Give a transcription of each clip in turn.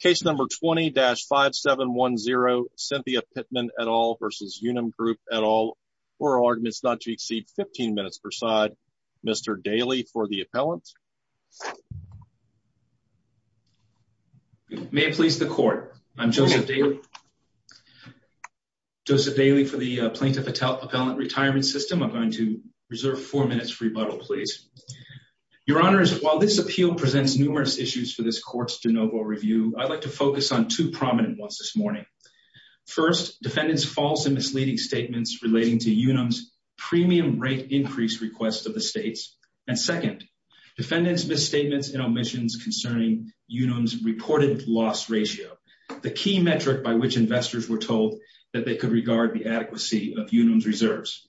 Case 20-5710 Cynthia Pittman v. Unum Group 2. Defendants' False and Misleading Statements Relating to Unum's Premium Rate Increase Requests of the States 2. Defendants' Misstatements and Omissions Concerning Unum's Reported Loss Ratio, the key metric by which investors were told that they could regard the adequacy of Unum's reserves.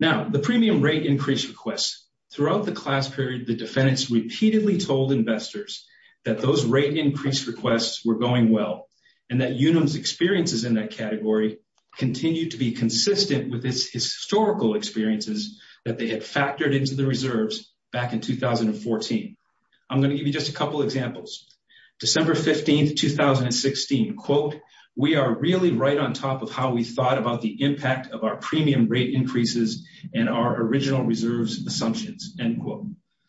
The Premium Rate Increase Requests Throughout the class period, the defendants repeatedly told investors that those rate increase requests were going well and that Unum's experiences in that category continued to be consistent with its historical experiences that they had factored into the reserves back in 2014. I'm going to give you just a couple examples. December 15, 2016, quote, we are really right on top of how we thought about the impact of our premium rate increases and our original reserves assumptions, end quote.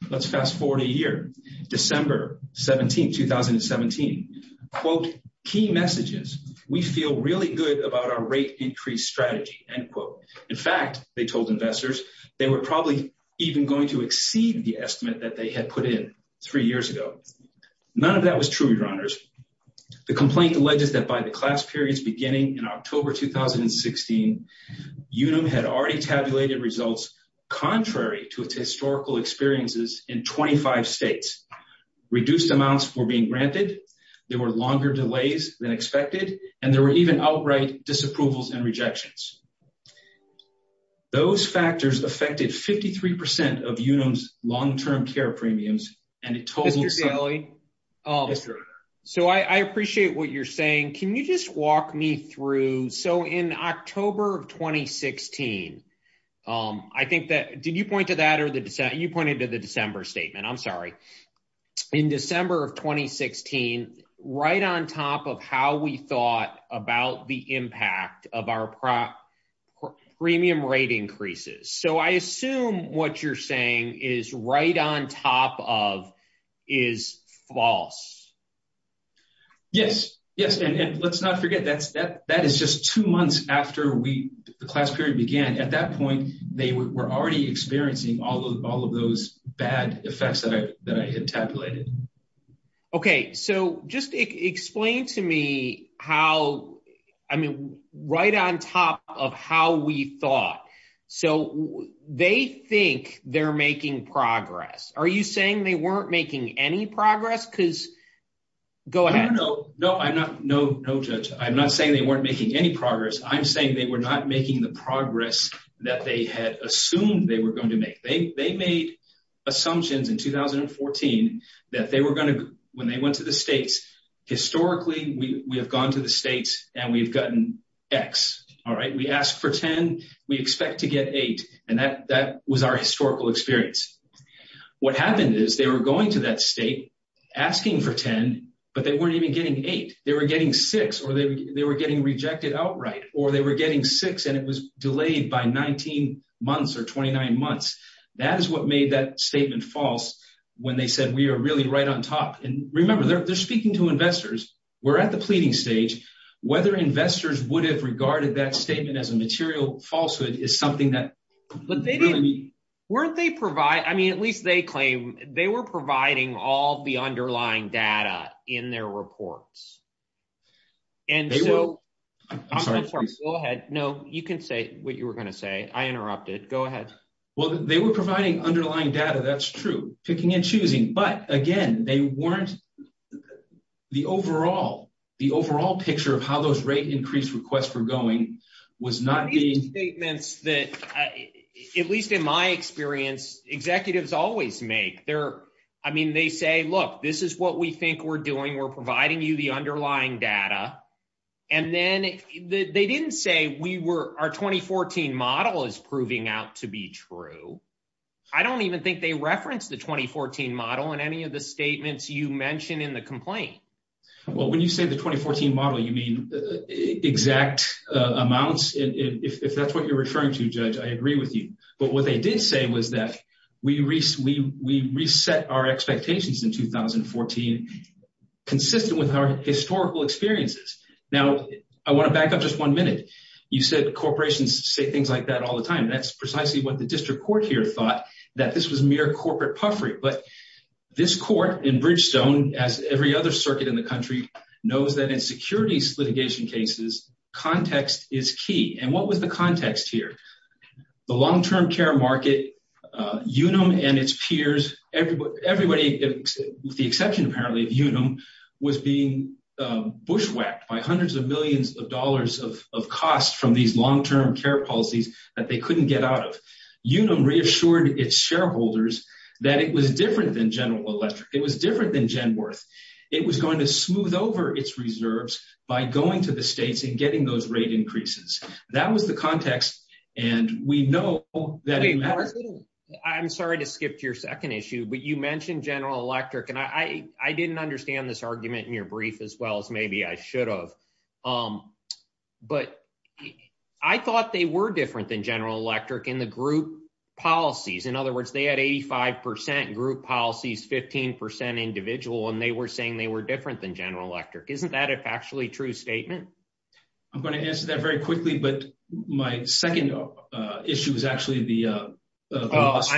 Let's fast forward a year. December 17, 2017, quote, key messages. We feel really good about our rate increase strategy, end quote. In fact, they told investors they were probably even going to exceed the estimate that they had put in three years ago. None of that was true, your honors. The complaint alleges that by the class periods beginning in October 2016, Unum had already tabulated results contrary to its historical experiences in 25 states. Reduced amounts were being granted, there were longer delays than expected, and there were even outright disapprovals and rejections. Those factors affected 53% of Unum's long-term care premiums, and it totaled some— So I appreciate what you're saying. Can you just walk me through—so in October of 2016, I think that—did you point to that or the—you pointed to the December statement, I'm sorry. In December of 2016, right on top of how we thought about the impact of our premium rate increases. So I assume what you're saying is right on top of is false. Yes. Yes. And let's not forget that is just two months after we—the class period began. At that point, they were already experiencing all of those bad effects that I had tabulated. Okay. So just explain to me how—I mean, right on top of how we thought. So they think they're making progress. Are you saying they weren't making any progress? Because—go ahead. No. No, I'm not—no, no, Judge. I'm not saying they weren't making any progress. I'm saying they were not making the progress that they had assumed they were going to make. They made assumptions in 2014 that they were going to—when they went to the states, historically, we have gone to the states and we've gotten X. All right? We asked for 10. We expect to get 8. And that was our historical experience. What happened is they were going to that state, asking for 10, but they weren't even getting 8. They were getting 6 or they were getting rejected outright. Or they were getting 6 and it was delayed by 19 months or 29 months. That is what made that statement false when they said we are really right on top. And remember, they're speaking to investors. We're at the pleading stage. Whether investors would have regarded that statement as a material falsehood is something that— But they didn't—weren't they provide—I mean, at least they claim—they were providing all the underlying data in their reports. They were—I'm sorry. Go ahead. No, you can say what you were going to say. I interrupted. Go ahead. Well, they were providing underlying data. That's true. Picking and choosing. But again, they weren't—the overall picture of how those rate increase requests were going was not being— These statements that, at least in my experience, executives always make. I mean, they say, look, this is what we think we're doing. We're providing you the underlying data. And then they didn't say we were—our 2014 model is proving out to be true. I don't even think they referenced the 2014 model in any of the statements you mentioned in the complaint. Well, when you say the 2014 model, you mean exact amounts. If that's what you're referring to, Judge, I agree with you. But what they did say was that we reset our expectations in 2014 consistent with our historical experiences. Now, I want to back up just one minute. You said corporations say things like that all the time. That's precisely what the district court here thought, that this was mere corporate puffery. But this court in Bridgestone, as every other circuit in the country, knows that in securities litigation cases, context is key. And what was the context here? The long-term care market Unum and its peers, everybody, with the exception apparently of Unum, was being bushwhacked by hundreds of millions of dollars of costs from these long-term care policies that they couldn't get out of. Unum reassured its shareholders that it was different than General Electric. It was different than Genworth. It was going to smooth over its reserves by going to the states and I'm sorry to skip to your second issue, but you mentioned General Electric, and I didn't understand this argument in your brief as well as maybe I should have. But I thought they were different than General Electric in the group policies. In other words, they had 85% group policies, 15% individual, and they were saying they were different than General Electric. Isn't that a factually true statement? I'm going to answer that very quickly. But my second issue is actually the loss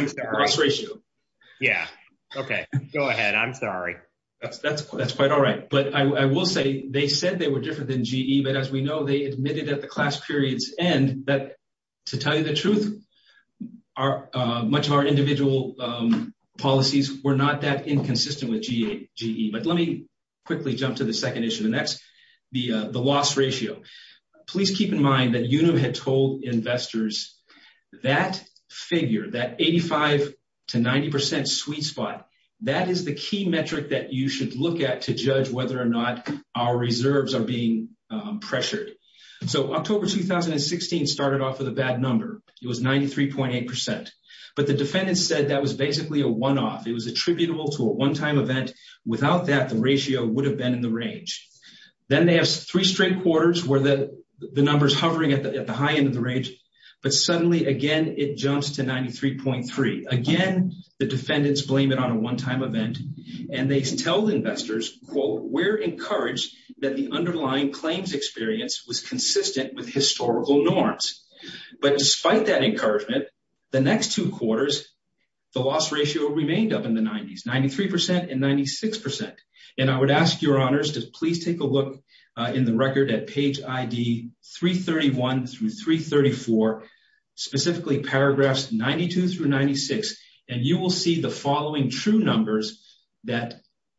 ratio. Yeah. Okay. Go ahead. I'm sorry. That's quite all right. But I will say they said they were different than General Electric, but as we know, they admitted at the class period's end that, to tell you the truth, much of our individual policies were not that inconsistent with General Electric. But let me quickly jump to the second issue, and that's the loss ratio. Please keep in mind that Unum had told investors that figure, that 85% to 90% sweet spot, that is the key metric that you should look at to judge whether or not our reserves are being pressured. So October 2016 started off with a bad number. It was 93.8%. But the defendants said that was basically a one-off. It was attributable to a one-time event. Without that, the ratio would have been in the range. Then they have three straight quarters where the number's hovering at the high end of the range. But suddenly, again, it jumps to 93.3%. Again, the defendants blame it on a one-time event. And they tell investors, quote, we're encouraged that the underlying claims experience was consistent with historical norms. But despite that encouragement, the next two quarters, the loss ratio remained up in the 90s, 93% and 96%. And I would ask your honors to please take a look in the record at page ID 331 through 334, specifically paragraphs 92 through 96. And you will see the following true numbers that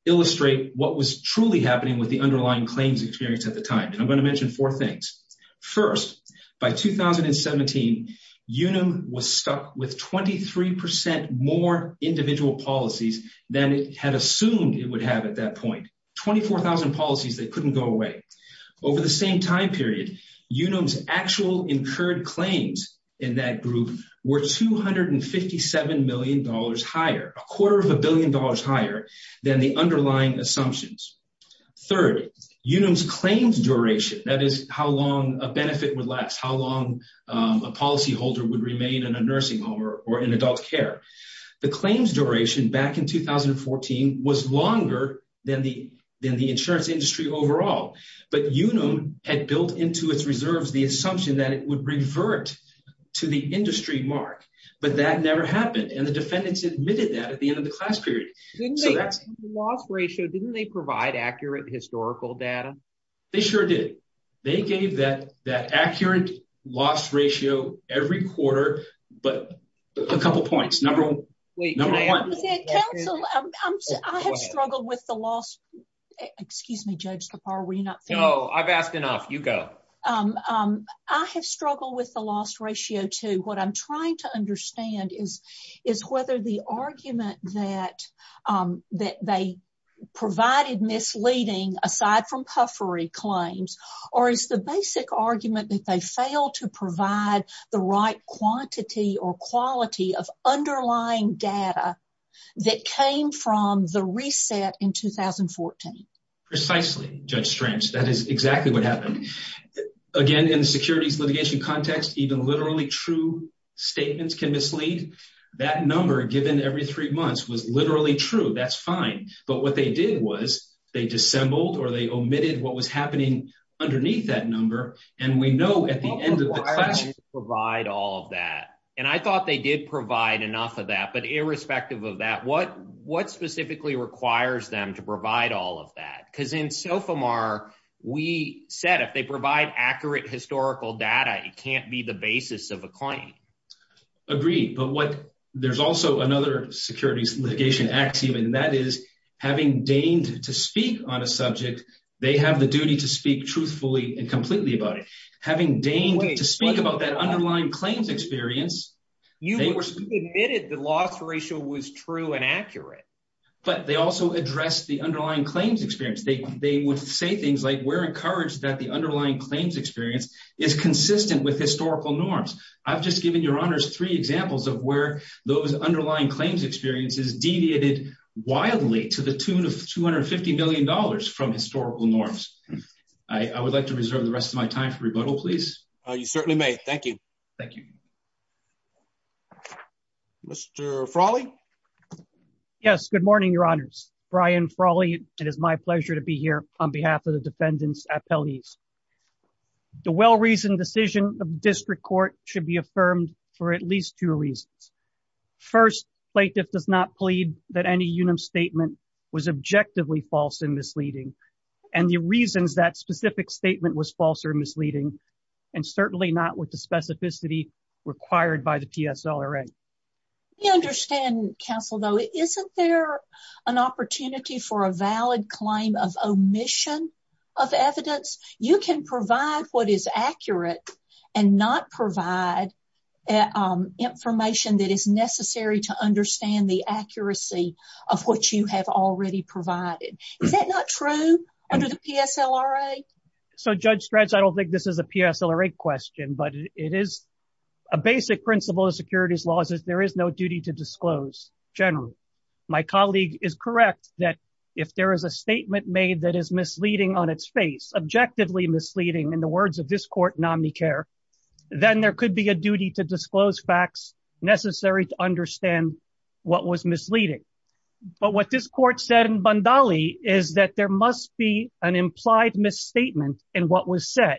illustrate what was truly happening with the underlying claims experience at the time. And I'm going to mention four things. First, by 2017, Unum was stuck with 23% more individual policies than it had assumed it would have at that point. 24,000 policies that couldn't go away. Over the same time period, Unum's actual incurred claims in that group were $257 million higher, a quarter of a billion dollars higher than the underlying assumptions. Third, Unum's claims duration, that is how long a benefit would last, how long a policyholder would remain in a nursing home or in adult care. The claims duration back in 2014 was longer than the insurance industry overall. But Unum had built into its reserves the assumption that it would revert to the industry mark. But that never happened. And the defendants admitted that at the end of the class period. So that's... The loss ratio, didn't they provide accurate historical data? They sure did. They gave that accurate loss ratio every quarter, but a couple points. Number one... Wait, can I add something? Counsel, I have struggled with the loss... Excuse me, Judge Kapar, were you not thinking? No, I've asked enough. You go. I have struggled with the loss ratio, too. What I'm trying to understand is whether the argument that they provided misleading, aside from puffery claims, or is the basic argument that they failed to provide the right quantity or quality of underlying data that came from the reset in 2014? Precisely, Judge Strange. That is exactly what happened. Again, in the securities litigation context, even literally true statements can mislead. That number given every three months was literally true. That's fine. But what they did was they dissembled or they omitted what was happening underneath that number. And we know at the end of the class... What requires you to provide all of that? And I thought they did provide enough of that. But irrespective of that, what specifically requires them to provide all of that? Because in SOFMR, we said if they provide accurate historical data, it can't be the basis of a claim. Agreed. But there's also another securities litigation axiom, and that is having deigned to speak on a subject, they have the duty to speak truthfully and completely about it. Having deigned to speak about that underlying claims experience... You admitted the loss ratio was true and accurate. But they also addressed the underlying claims experience. They would say things like, we're encouraged that the underlying claims experience is consistent with historical norms. I've just given your honors three examples of where those underlying claims experiences deviated wildly to the tune of 250 million dollars from historical norms. I would like to reserve the rest of my time for rebuttal, please. You certainly may. Thank you. Thank you. Mr. Frawley? Yes. Good morning, your honors. Brian Frawley. It is my pleasure to be here on behalf of defendants' appellees. The well-reasoned decision of district court should be affirmed for at least two reasons. First, plaintiff does not plead that any UNAM statement was objectively false and misleading, and the reasons that specific statement was false or misleading, and certainly not with the specificity required by the PSLRA. I understand, counsel, though, isn't there an opportunity for a valid claim of omission of evidence? You can provide what is accurate and not provide information that is necessary to understand the accuracy of what you have already provided. Is that not true under the PSLRA? So, Judge Stratz, I don't think this is a PSLRA question, but it is a basic principle of securities laws is there is no duty to disclose generally. My colleague is correct that if there is a statement made that is misleading on its face, objectively misleading, in the words of this court, nominee care, then there could be a duty to disclose facts necessary to understand what was misleading. But what this court said in Bundali is that there must be an implied misstatement in what was said.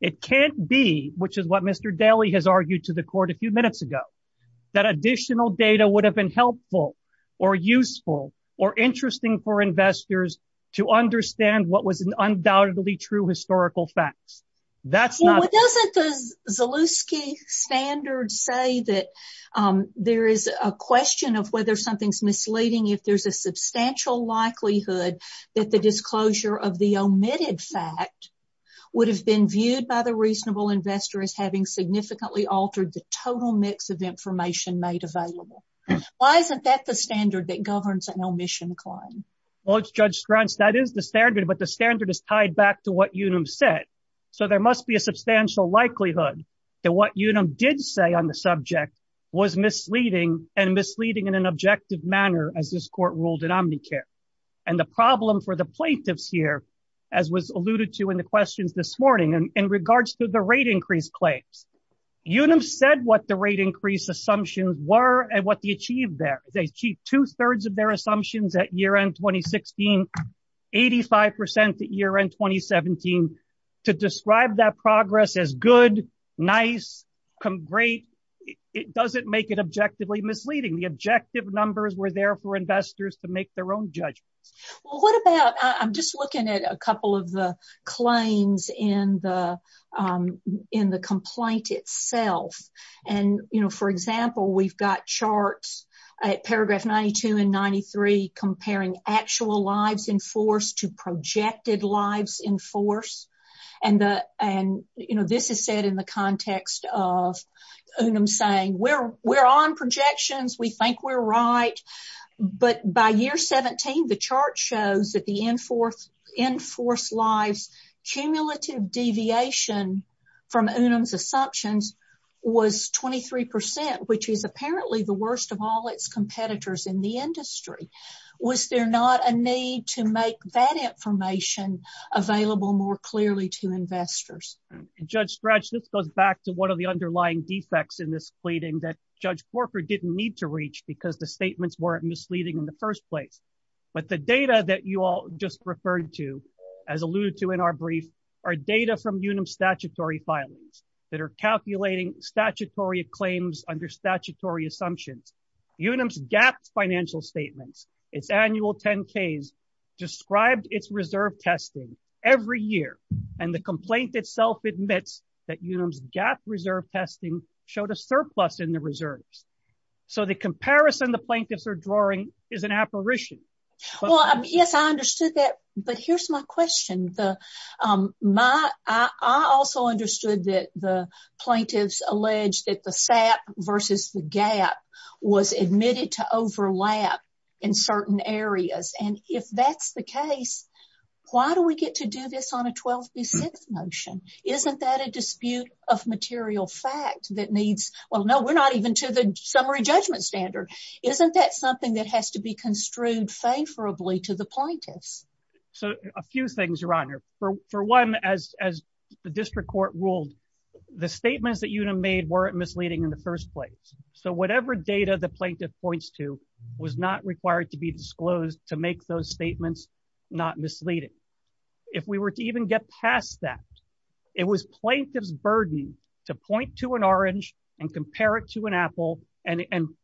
It can't be, which is what Mr. Daly has argued to the court a few minutes ago, that additional data would have been helpful or useful or interesting for investors to understand what was an undoubtedly true historical facts. That's not... Well, doesn't the Zalewski standard say that there is a question of whether something's misleading if there's a substantial likelihood that the disclosure of the omitted fact would have been viewed by the reasonable investor as having significantly altered the total mix of information made available? Why isn't that the standard that governs an omission claim? Well, Judge Stratz, that is the standard, but the standard is tied back to what Unum said. So, there must be a substantial likelihood that what Unum did say on the subject was misleading and misleading in an objective manner, as this court ruled in omnicare. And the problem for the questions this morning in regards to the rate increase claims, Unum said what the rate increase assumptions were and what they achieved there. They achieved two-thirds of their assumptions at year-end 2016, 85% at year-end 2017. To describe that progress as good, nice, great, it doesn't make it objectively misleading. The objective numbers were there for investors to make their judgments. Well, what about, I'm just looking at a couple of the claims in the complaint itself. And, you know, for example, we've got charts at paragraph 92 and 93 comparing actual lives in force to projected lives in force. And, you know, this is said in the context of the chart shows that the in-force lives cumulative deviation from Unum's assumptions was 23%, which is apparently the worst of all its competitors in the industry. Was there not a need to make that information available more clearly to investors? And Judge Stratz, this goes back to one of the underlying defects in this pleading that Judge Corker didn't need to reach because the statements weren't misleading in the first place. But the data that you all just referred to, as alluded to in our brief, are data from Unum's statutory filings that are calculating statutory claims under statutory assumptions. Unum's GAAP financial statements, its annual 10ks, described its reserve testing every year. And the complaint itself admits that Unum's GAAP reserve testing showed a surplus in the reserves. So the comparison the plaintiffs are drawing is an apparition. Well, yes, I understood that. But here's my question. I also understood that the plaintiffs alleged that the SAP versus the GAAP was admitted to overlap in certain areas. And if that's the case, why do we get to do this on a 12b6 motion? Isn't that a dispute of material fact that needs? Well, no, we're not even to the summary judgment standard. Isn't that something that has to be construed favorably to the plaintiffs? So a few things, Your Honor. For one, as the district court ruled, the statements that Unum made weren't misleading in the first place. So whatever data the plaintiff points to was not required to be disclosed to make those statements not misleading. If we were to even get past that, it was plaintiff's burden to point to an orange and compare it to an apple and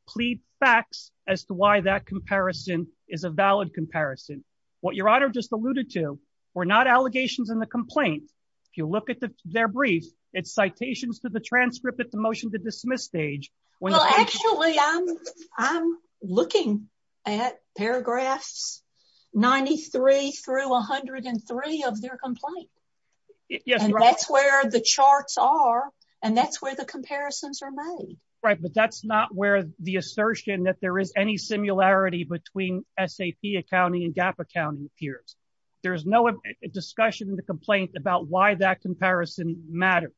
plead facts as to why that comparison is a valid comparison. What Your Honor just alluded to were not allegations in the complaint. If you look at their brief, it's citations to the transcript at the motion to dismiss stage. Well, actually, I'm looking at paragraphs 93 through 103 of their complaint. Yes. And that's where the charts are. And that's where the comparisons are made. Right. But that's not where the assertion that there is any similarity between SAP accounting and GAAP accounting appears. There's no discussion in the complaint about why that comparison matters.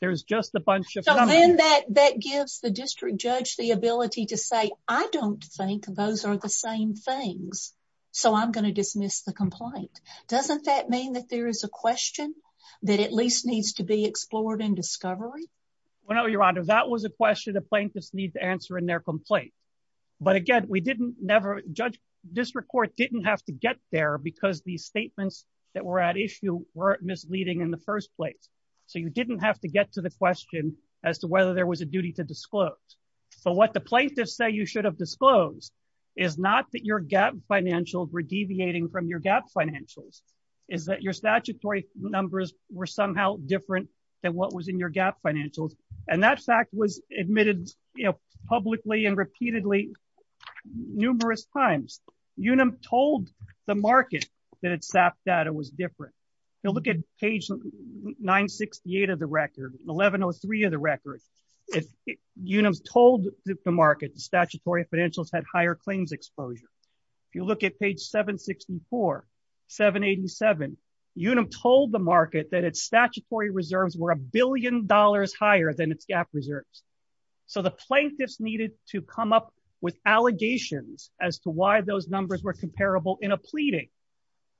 There's just a bunch of- So then that gives the district judge the ability to say, I don't think those are the same things. So I'm going to dismiss the complaint. Doesn't that mean that there is a question that at least needs to be explored in discovery? Well, no, Your Honor, that was a question the plaintiffs need to answer in their complaint. But again, we didn't never judge district court didn't have to get there because these statements that were at issue weren't misleading in the first place. So you didn't have to get to the question as to whether there was a duty to disclose. So what the plaintiffs say you should have disclosed is not that your GAAP financials were deviating from your GAAP financials, is that your statutory numbers were somehow different than what was in your GAAP financials. And that fact was admitted publicly and repeatedly numerous times. Unum told the market that its SAP data was different. If you look at page 968 of the record, 1103 of the record, Unum told the market the statutory financials had higher claims exposure. If you look at page 764, 787, Unum told the market that its statutory reserves were a billion dollars higher than its GAAP reserves. So the plaintiffs needed to come up with allegations as to why those numbers were comparable in a pleading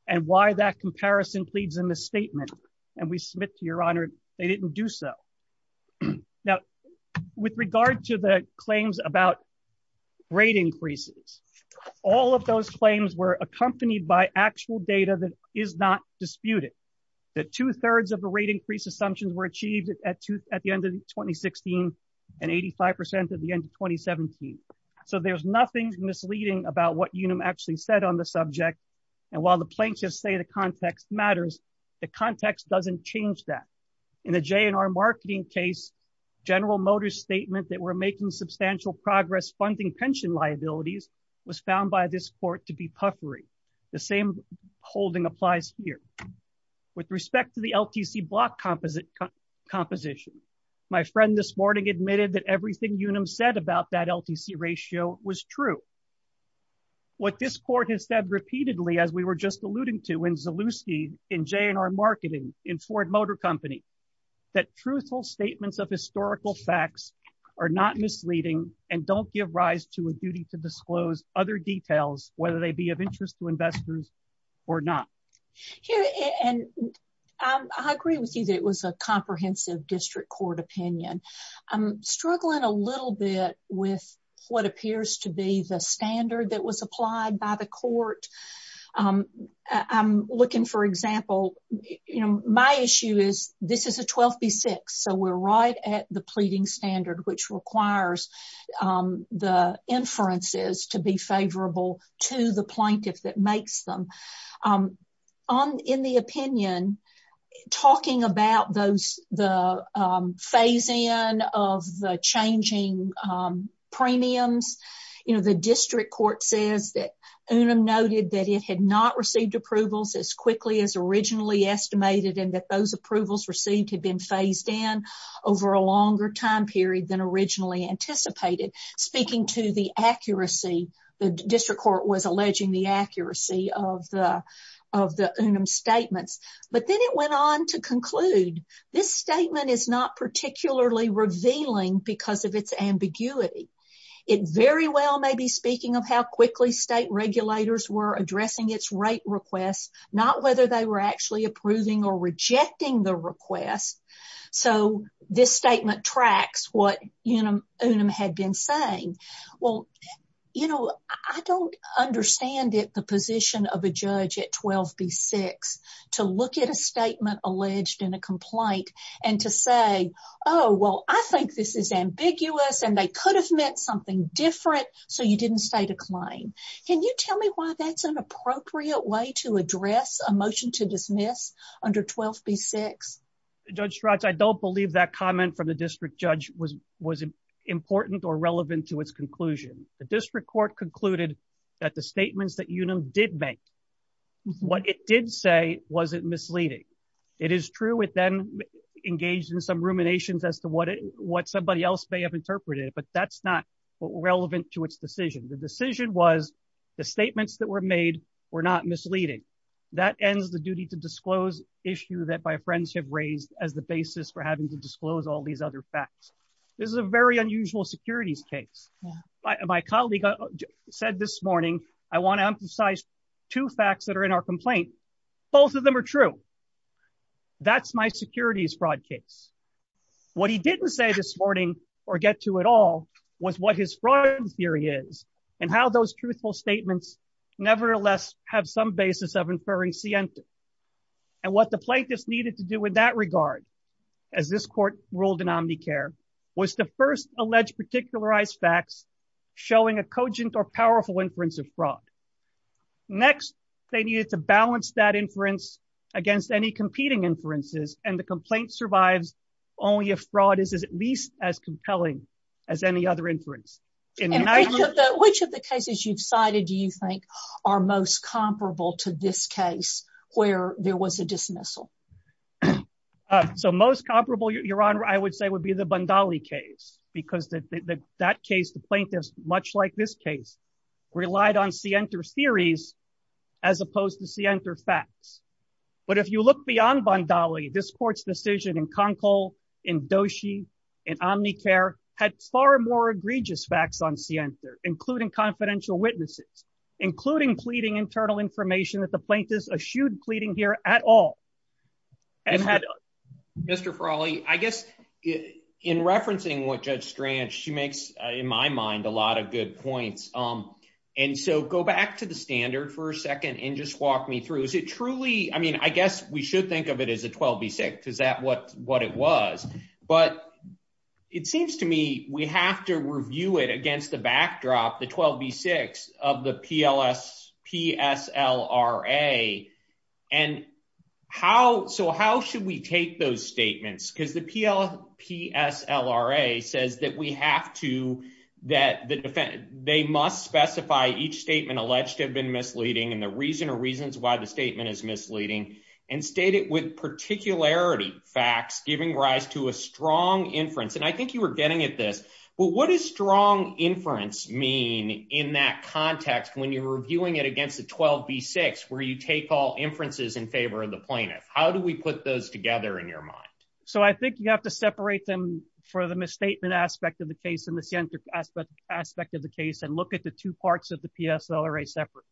and why that comparison pleads a misstatement. And we submit to your honor, they didn't do so. Now, with regard to the claims about rate increases, all of those claims were accompanied by actual data that is not disputed. The two thirds of the rate increase assumptions were achieved at the end of 2016 and 85% at the end of 2017. So there's nothing misleading about what and while the plaintiffs say the context matters, the context doesn't change that. In the JNR marketing case, General Motors statement that we're making substantial progress funding pension liabilities was found by this court to be puffery. The same holding applies here. With respect to the LTC block composition, my friend this morning admitted that everything said about that LTC ratio was true. What this court has said repeatedly as we were just alluding to in Zalewski in JNR marketing in Ford Motor Company, that truthful statements of historical facts are not misleading and don't give rise to a duty to disclose other details whether they be of interest to investors or not. Here and I agree with you that it was a comprehensive district court opinion. I'm struggling a little bit with what appears to be the standard that was applied by the court. I'm looking for example, you know, my issue is this is a 12 B6 so we're right at the pleading standard which requires the inferences to be favorable to the plaintiff that phase in of the changing premiums. You know, the district court says that Unum noted that it had not received approvals as quickly as originally estimated and that those approvals received had been phased in over a longer time period than originally anticipated. Speaking to the accuracy, the district court was alleging the accuracy of the Unum statements. But then it went on to is not particularly revealing because of its ambiguity. It very well may be speaking of how quickly state regulators were addressing its rate requests, not whether they were actually approving or rejecting the request. So this statement tracks what Unum had been saying. Well, you know, I don't understand it, the position of a judge at 12 B6 to look at a complaint and to say, oh, well, I think this is ambiguous and they could have meant something different. So you didn't state a claim. Can you tell me why that's an appropriate way to address a motion to dismiss under 12 B6? Judge Schratz, I don't believe that comment from the district judge was important or relevant to its conclusion. The district court concluded that the statements that It is true it then engaged in some ruminations as to what somebody else may have interpreted, but that's not relevant to its decision. The decision was the statements that were made were not misleading. That ends the duty to disclose issue that my friends have raised as the basis for having to disclose all these other facts. This is a very unusual securities case. My colleague said this morning, I want to emphasize two facts that are in our complaint. Both of them are true. That's my securities fraud case. What he didn't say this morning or get to at all was what his fraud theory is and how those truthful statements nevertheless have some basis of inferring Sienta. And what the plaintiffs needed to do in that regard, as this court ruled in Omnicare, was to first allege particularized facts showing a cogent or powerful inference of fraud. Next, they needed to balance that inference against any competing inferences and the complaint survives only if fraud is at least as compelling as any other inference. Which of the cases you've cited, do you think are most comparable to this case where there was a dismissal? So most comparable, Your Honor, I would say would be the Bundali case because that case, the plaintiffs, much like this case, relied on Sienta theories as opposed to Sienta facts. But if you look beyond Bundali, this court's decision in Conkle, in Doshi, in Omnicare had far more egregious facts on Sienta, including confidential witnesses, including pleading internal information that the plaintiffs eschewed pleading here at all. And Mr. Faralli, I guess in referencing what Judge Strange, she makes in my mind a lot of good points. And so go back to the standard for a second and just walk me through. Is it truly, I mean, I guess we should think of it as a 12 v. 6. Is that what it was? But it seems to me we have to review it against the backdrop, the 12 v. 6 of the PSLRA. So how should we take those statements? Because the PSLRA says that we have to, they must specify each statement alleged to have been misleading and the reason or reasons why the statement is misleading and state it with particularity facts giving rise to a strong inference. And I think you were getting at this, but what is strong inference mean in that context when you're reviewing it against the 12 v. 6, where you take all inferences in favor of the plaintiff? How do we put those together in your mind? So I think you have to separate them for the misstatement aspect of the case and the Sienta aspect of the case and look at the two parts of the PSLRA separate.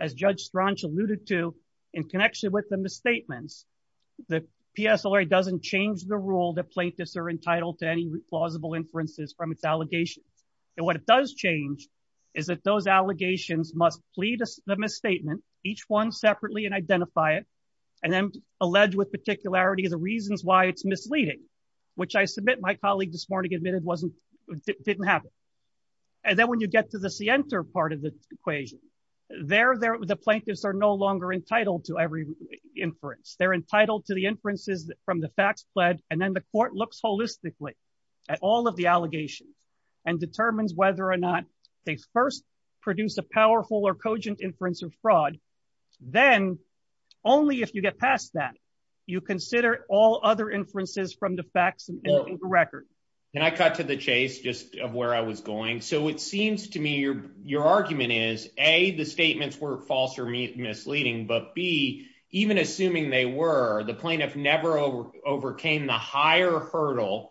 As Judge Strange alluded to in connection with the misstatements, the PSLRA doesn't change the rule that plaintiffs are entitled to any plausible inferences from its allegations. And what it does change is that those allegations must plead the misstatement, each one separately and identify it, and then allege with particularity the reasons why it's misleading, which I submit my colleague this morning admitted didn't happen. And then when you get to the Sienta part of the equation, there the plaintiffs are no longer entitled to every inference. They're and then the court looks holistically at all of the allegations and determines whether or not they first produce a powerful or cogent inference of fraud. Then only if you get past that, you consider all other inferences from the facts and the record. And I cut to the chase just of where I was going. So it seems to me your argument is A, the statements were false or misleading, but B, even assuming they were, the plaintiff never overcame the higher hurdle,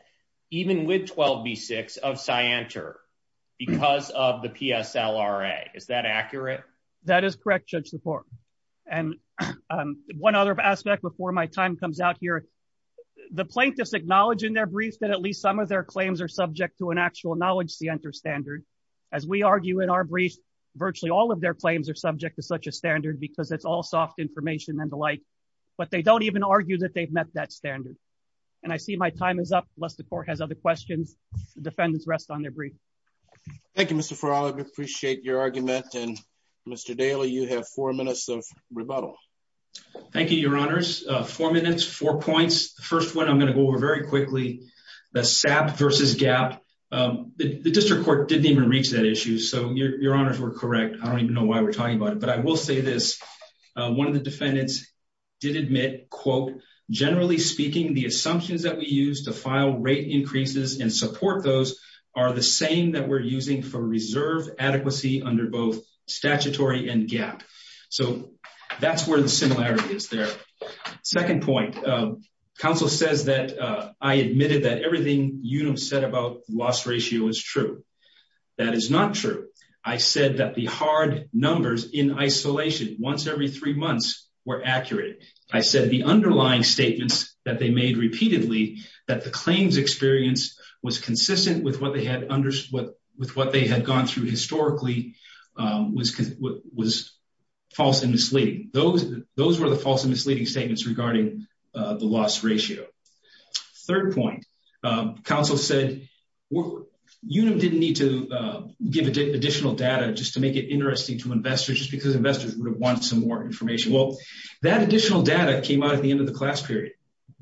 even with 12B6 of Sienta because of the PSLRA. Is that accurate? That is correct, Judge LaPorte. And one other aspect before my time comes out here, the plaintiffs acknowledge in their brief that at least some of their claims are subject to an actual knowledge Sienta standard. As we argue in our brief, virtually all of their claims are subject to such a standard because it's all soft information and the like, but they don't even argue that they've met that standard. And I see my time is up unless the court has other questions. The defendants rest on their brief. Thank you, Mr. Farag. Appreciate your argument. And Mr. Daly, you have four minutes of rebuttal. Thank you, your honors. Four minutes, four points. The first one I'm going to go over very quickly, the SAP versus GAP. The district court didn't even reach that issue, so your honors were correct. I don't even know why we're talking about it, but I will say this. One of the defendants did admit, generally speaking, the assumptions that we use to file rate increases and support those are the same that we're using for reserve adequacy under both statutory and GAP. So that everything you said about loss ratio is true. That is not true. I said that the hard numbers in isolation, once every three months were accurate. I said the underlying statements that they made repeatedly, that the claims experience was consistent with what they had gone through historically was false and misleading. Those were the false and misleading statements regarding the loss ratio. Third point, counsel said you didn't need to give additional data just to make it interesting to investors, just because investors would have wanted some more information. Well, that additional data came out at the end of the class period.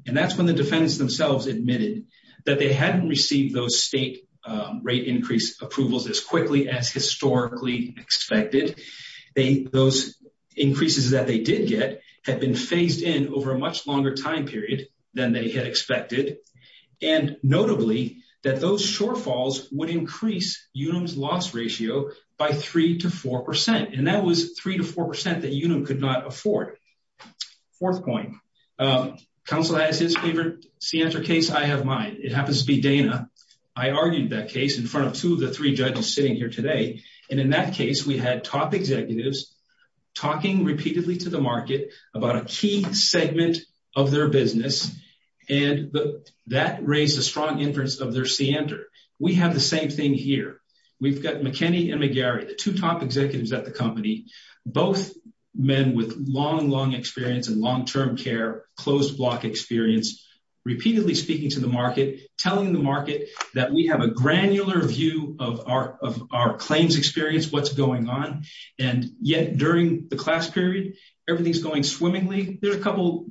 And that's when the defendants themselves admitted that they hadn't received those state rate increase approvals as quickly as historically expected. Those increases that they did get had been phased in over a much longer time period than they had expected. And notably, that those shortfalls would increase UNUM's loss ratio by three to 4%. And that was three to 4% that UNUM could not afford. Fourth point, counsel has his favorite scienter case. I have mine. It happens to be Dana. I argued that case in front of two of the three judges sitting here today. And in that case, we had top executives talking repeatedly to the market about a key segment of their business. And that raised a strong inference of their scienter. We have the same thing here. We've got McKinney and McGarry, the two top executives at the company, both men with long, long experience and long term care, closed block experience, repeatedly speaking to the market, telling the And yet during the class period, everything's going swimmingly. There's a couple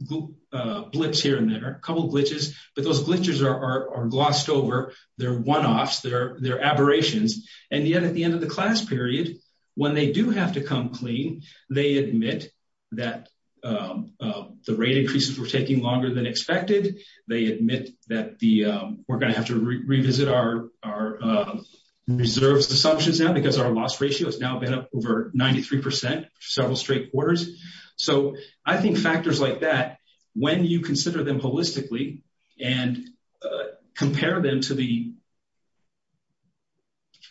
blips here and there, a couple glitches, but those glitches are glossed over. They're one-offs. They're aberrations. And yet at the end of the class period, when they do have to come clean, they admit that the rate increases were taking longer than expected. They admit that we're going to have to revisit our reserves assumptions now because our loss ratio has now been up over 93%, several straight quarters. So I think factors like that, when you consider them holistically and compare them to the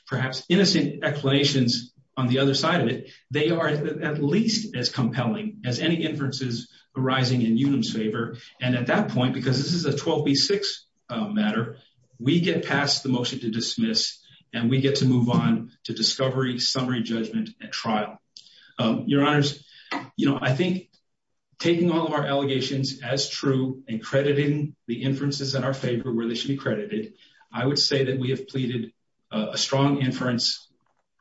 perhaps innocent explanations on the other side of it, they are at least as compelling as any inferences arising in Unum's favor. And at that point, because this is a 12B6 matter, we get past the motion to dismiss and we get to move on to discovery, summary judgment, and trial. Your Honors, I think taking all of our allegations as true and crediting the inferences in our favor where they should be credited, I would say that we have pleaded a strong inference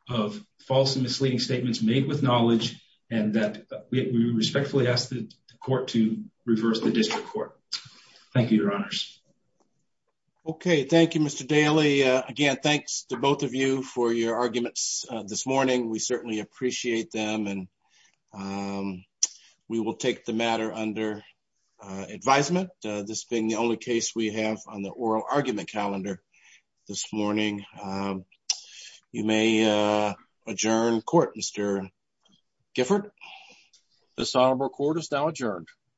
of false and misleading statements made with knowledge and that we respectfully ask the court to reverse the both of you for your arguments this morning. We certainly appreciate them and we will take the matter under advisement, this being the only case we have on the oral argument calendar this morning. You may adjourn court, Mr. Gifford. This honorable court is now adjourned.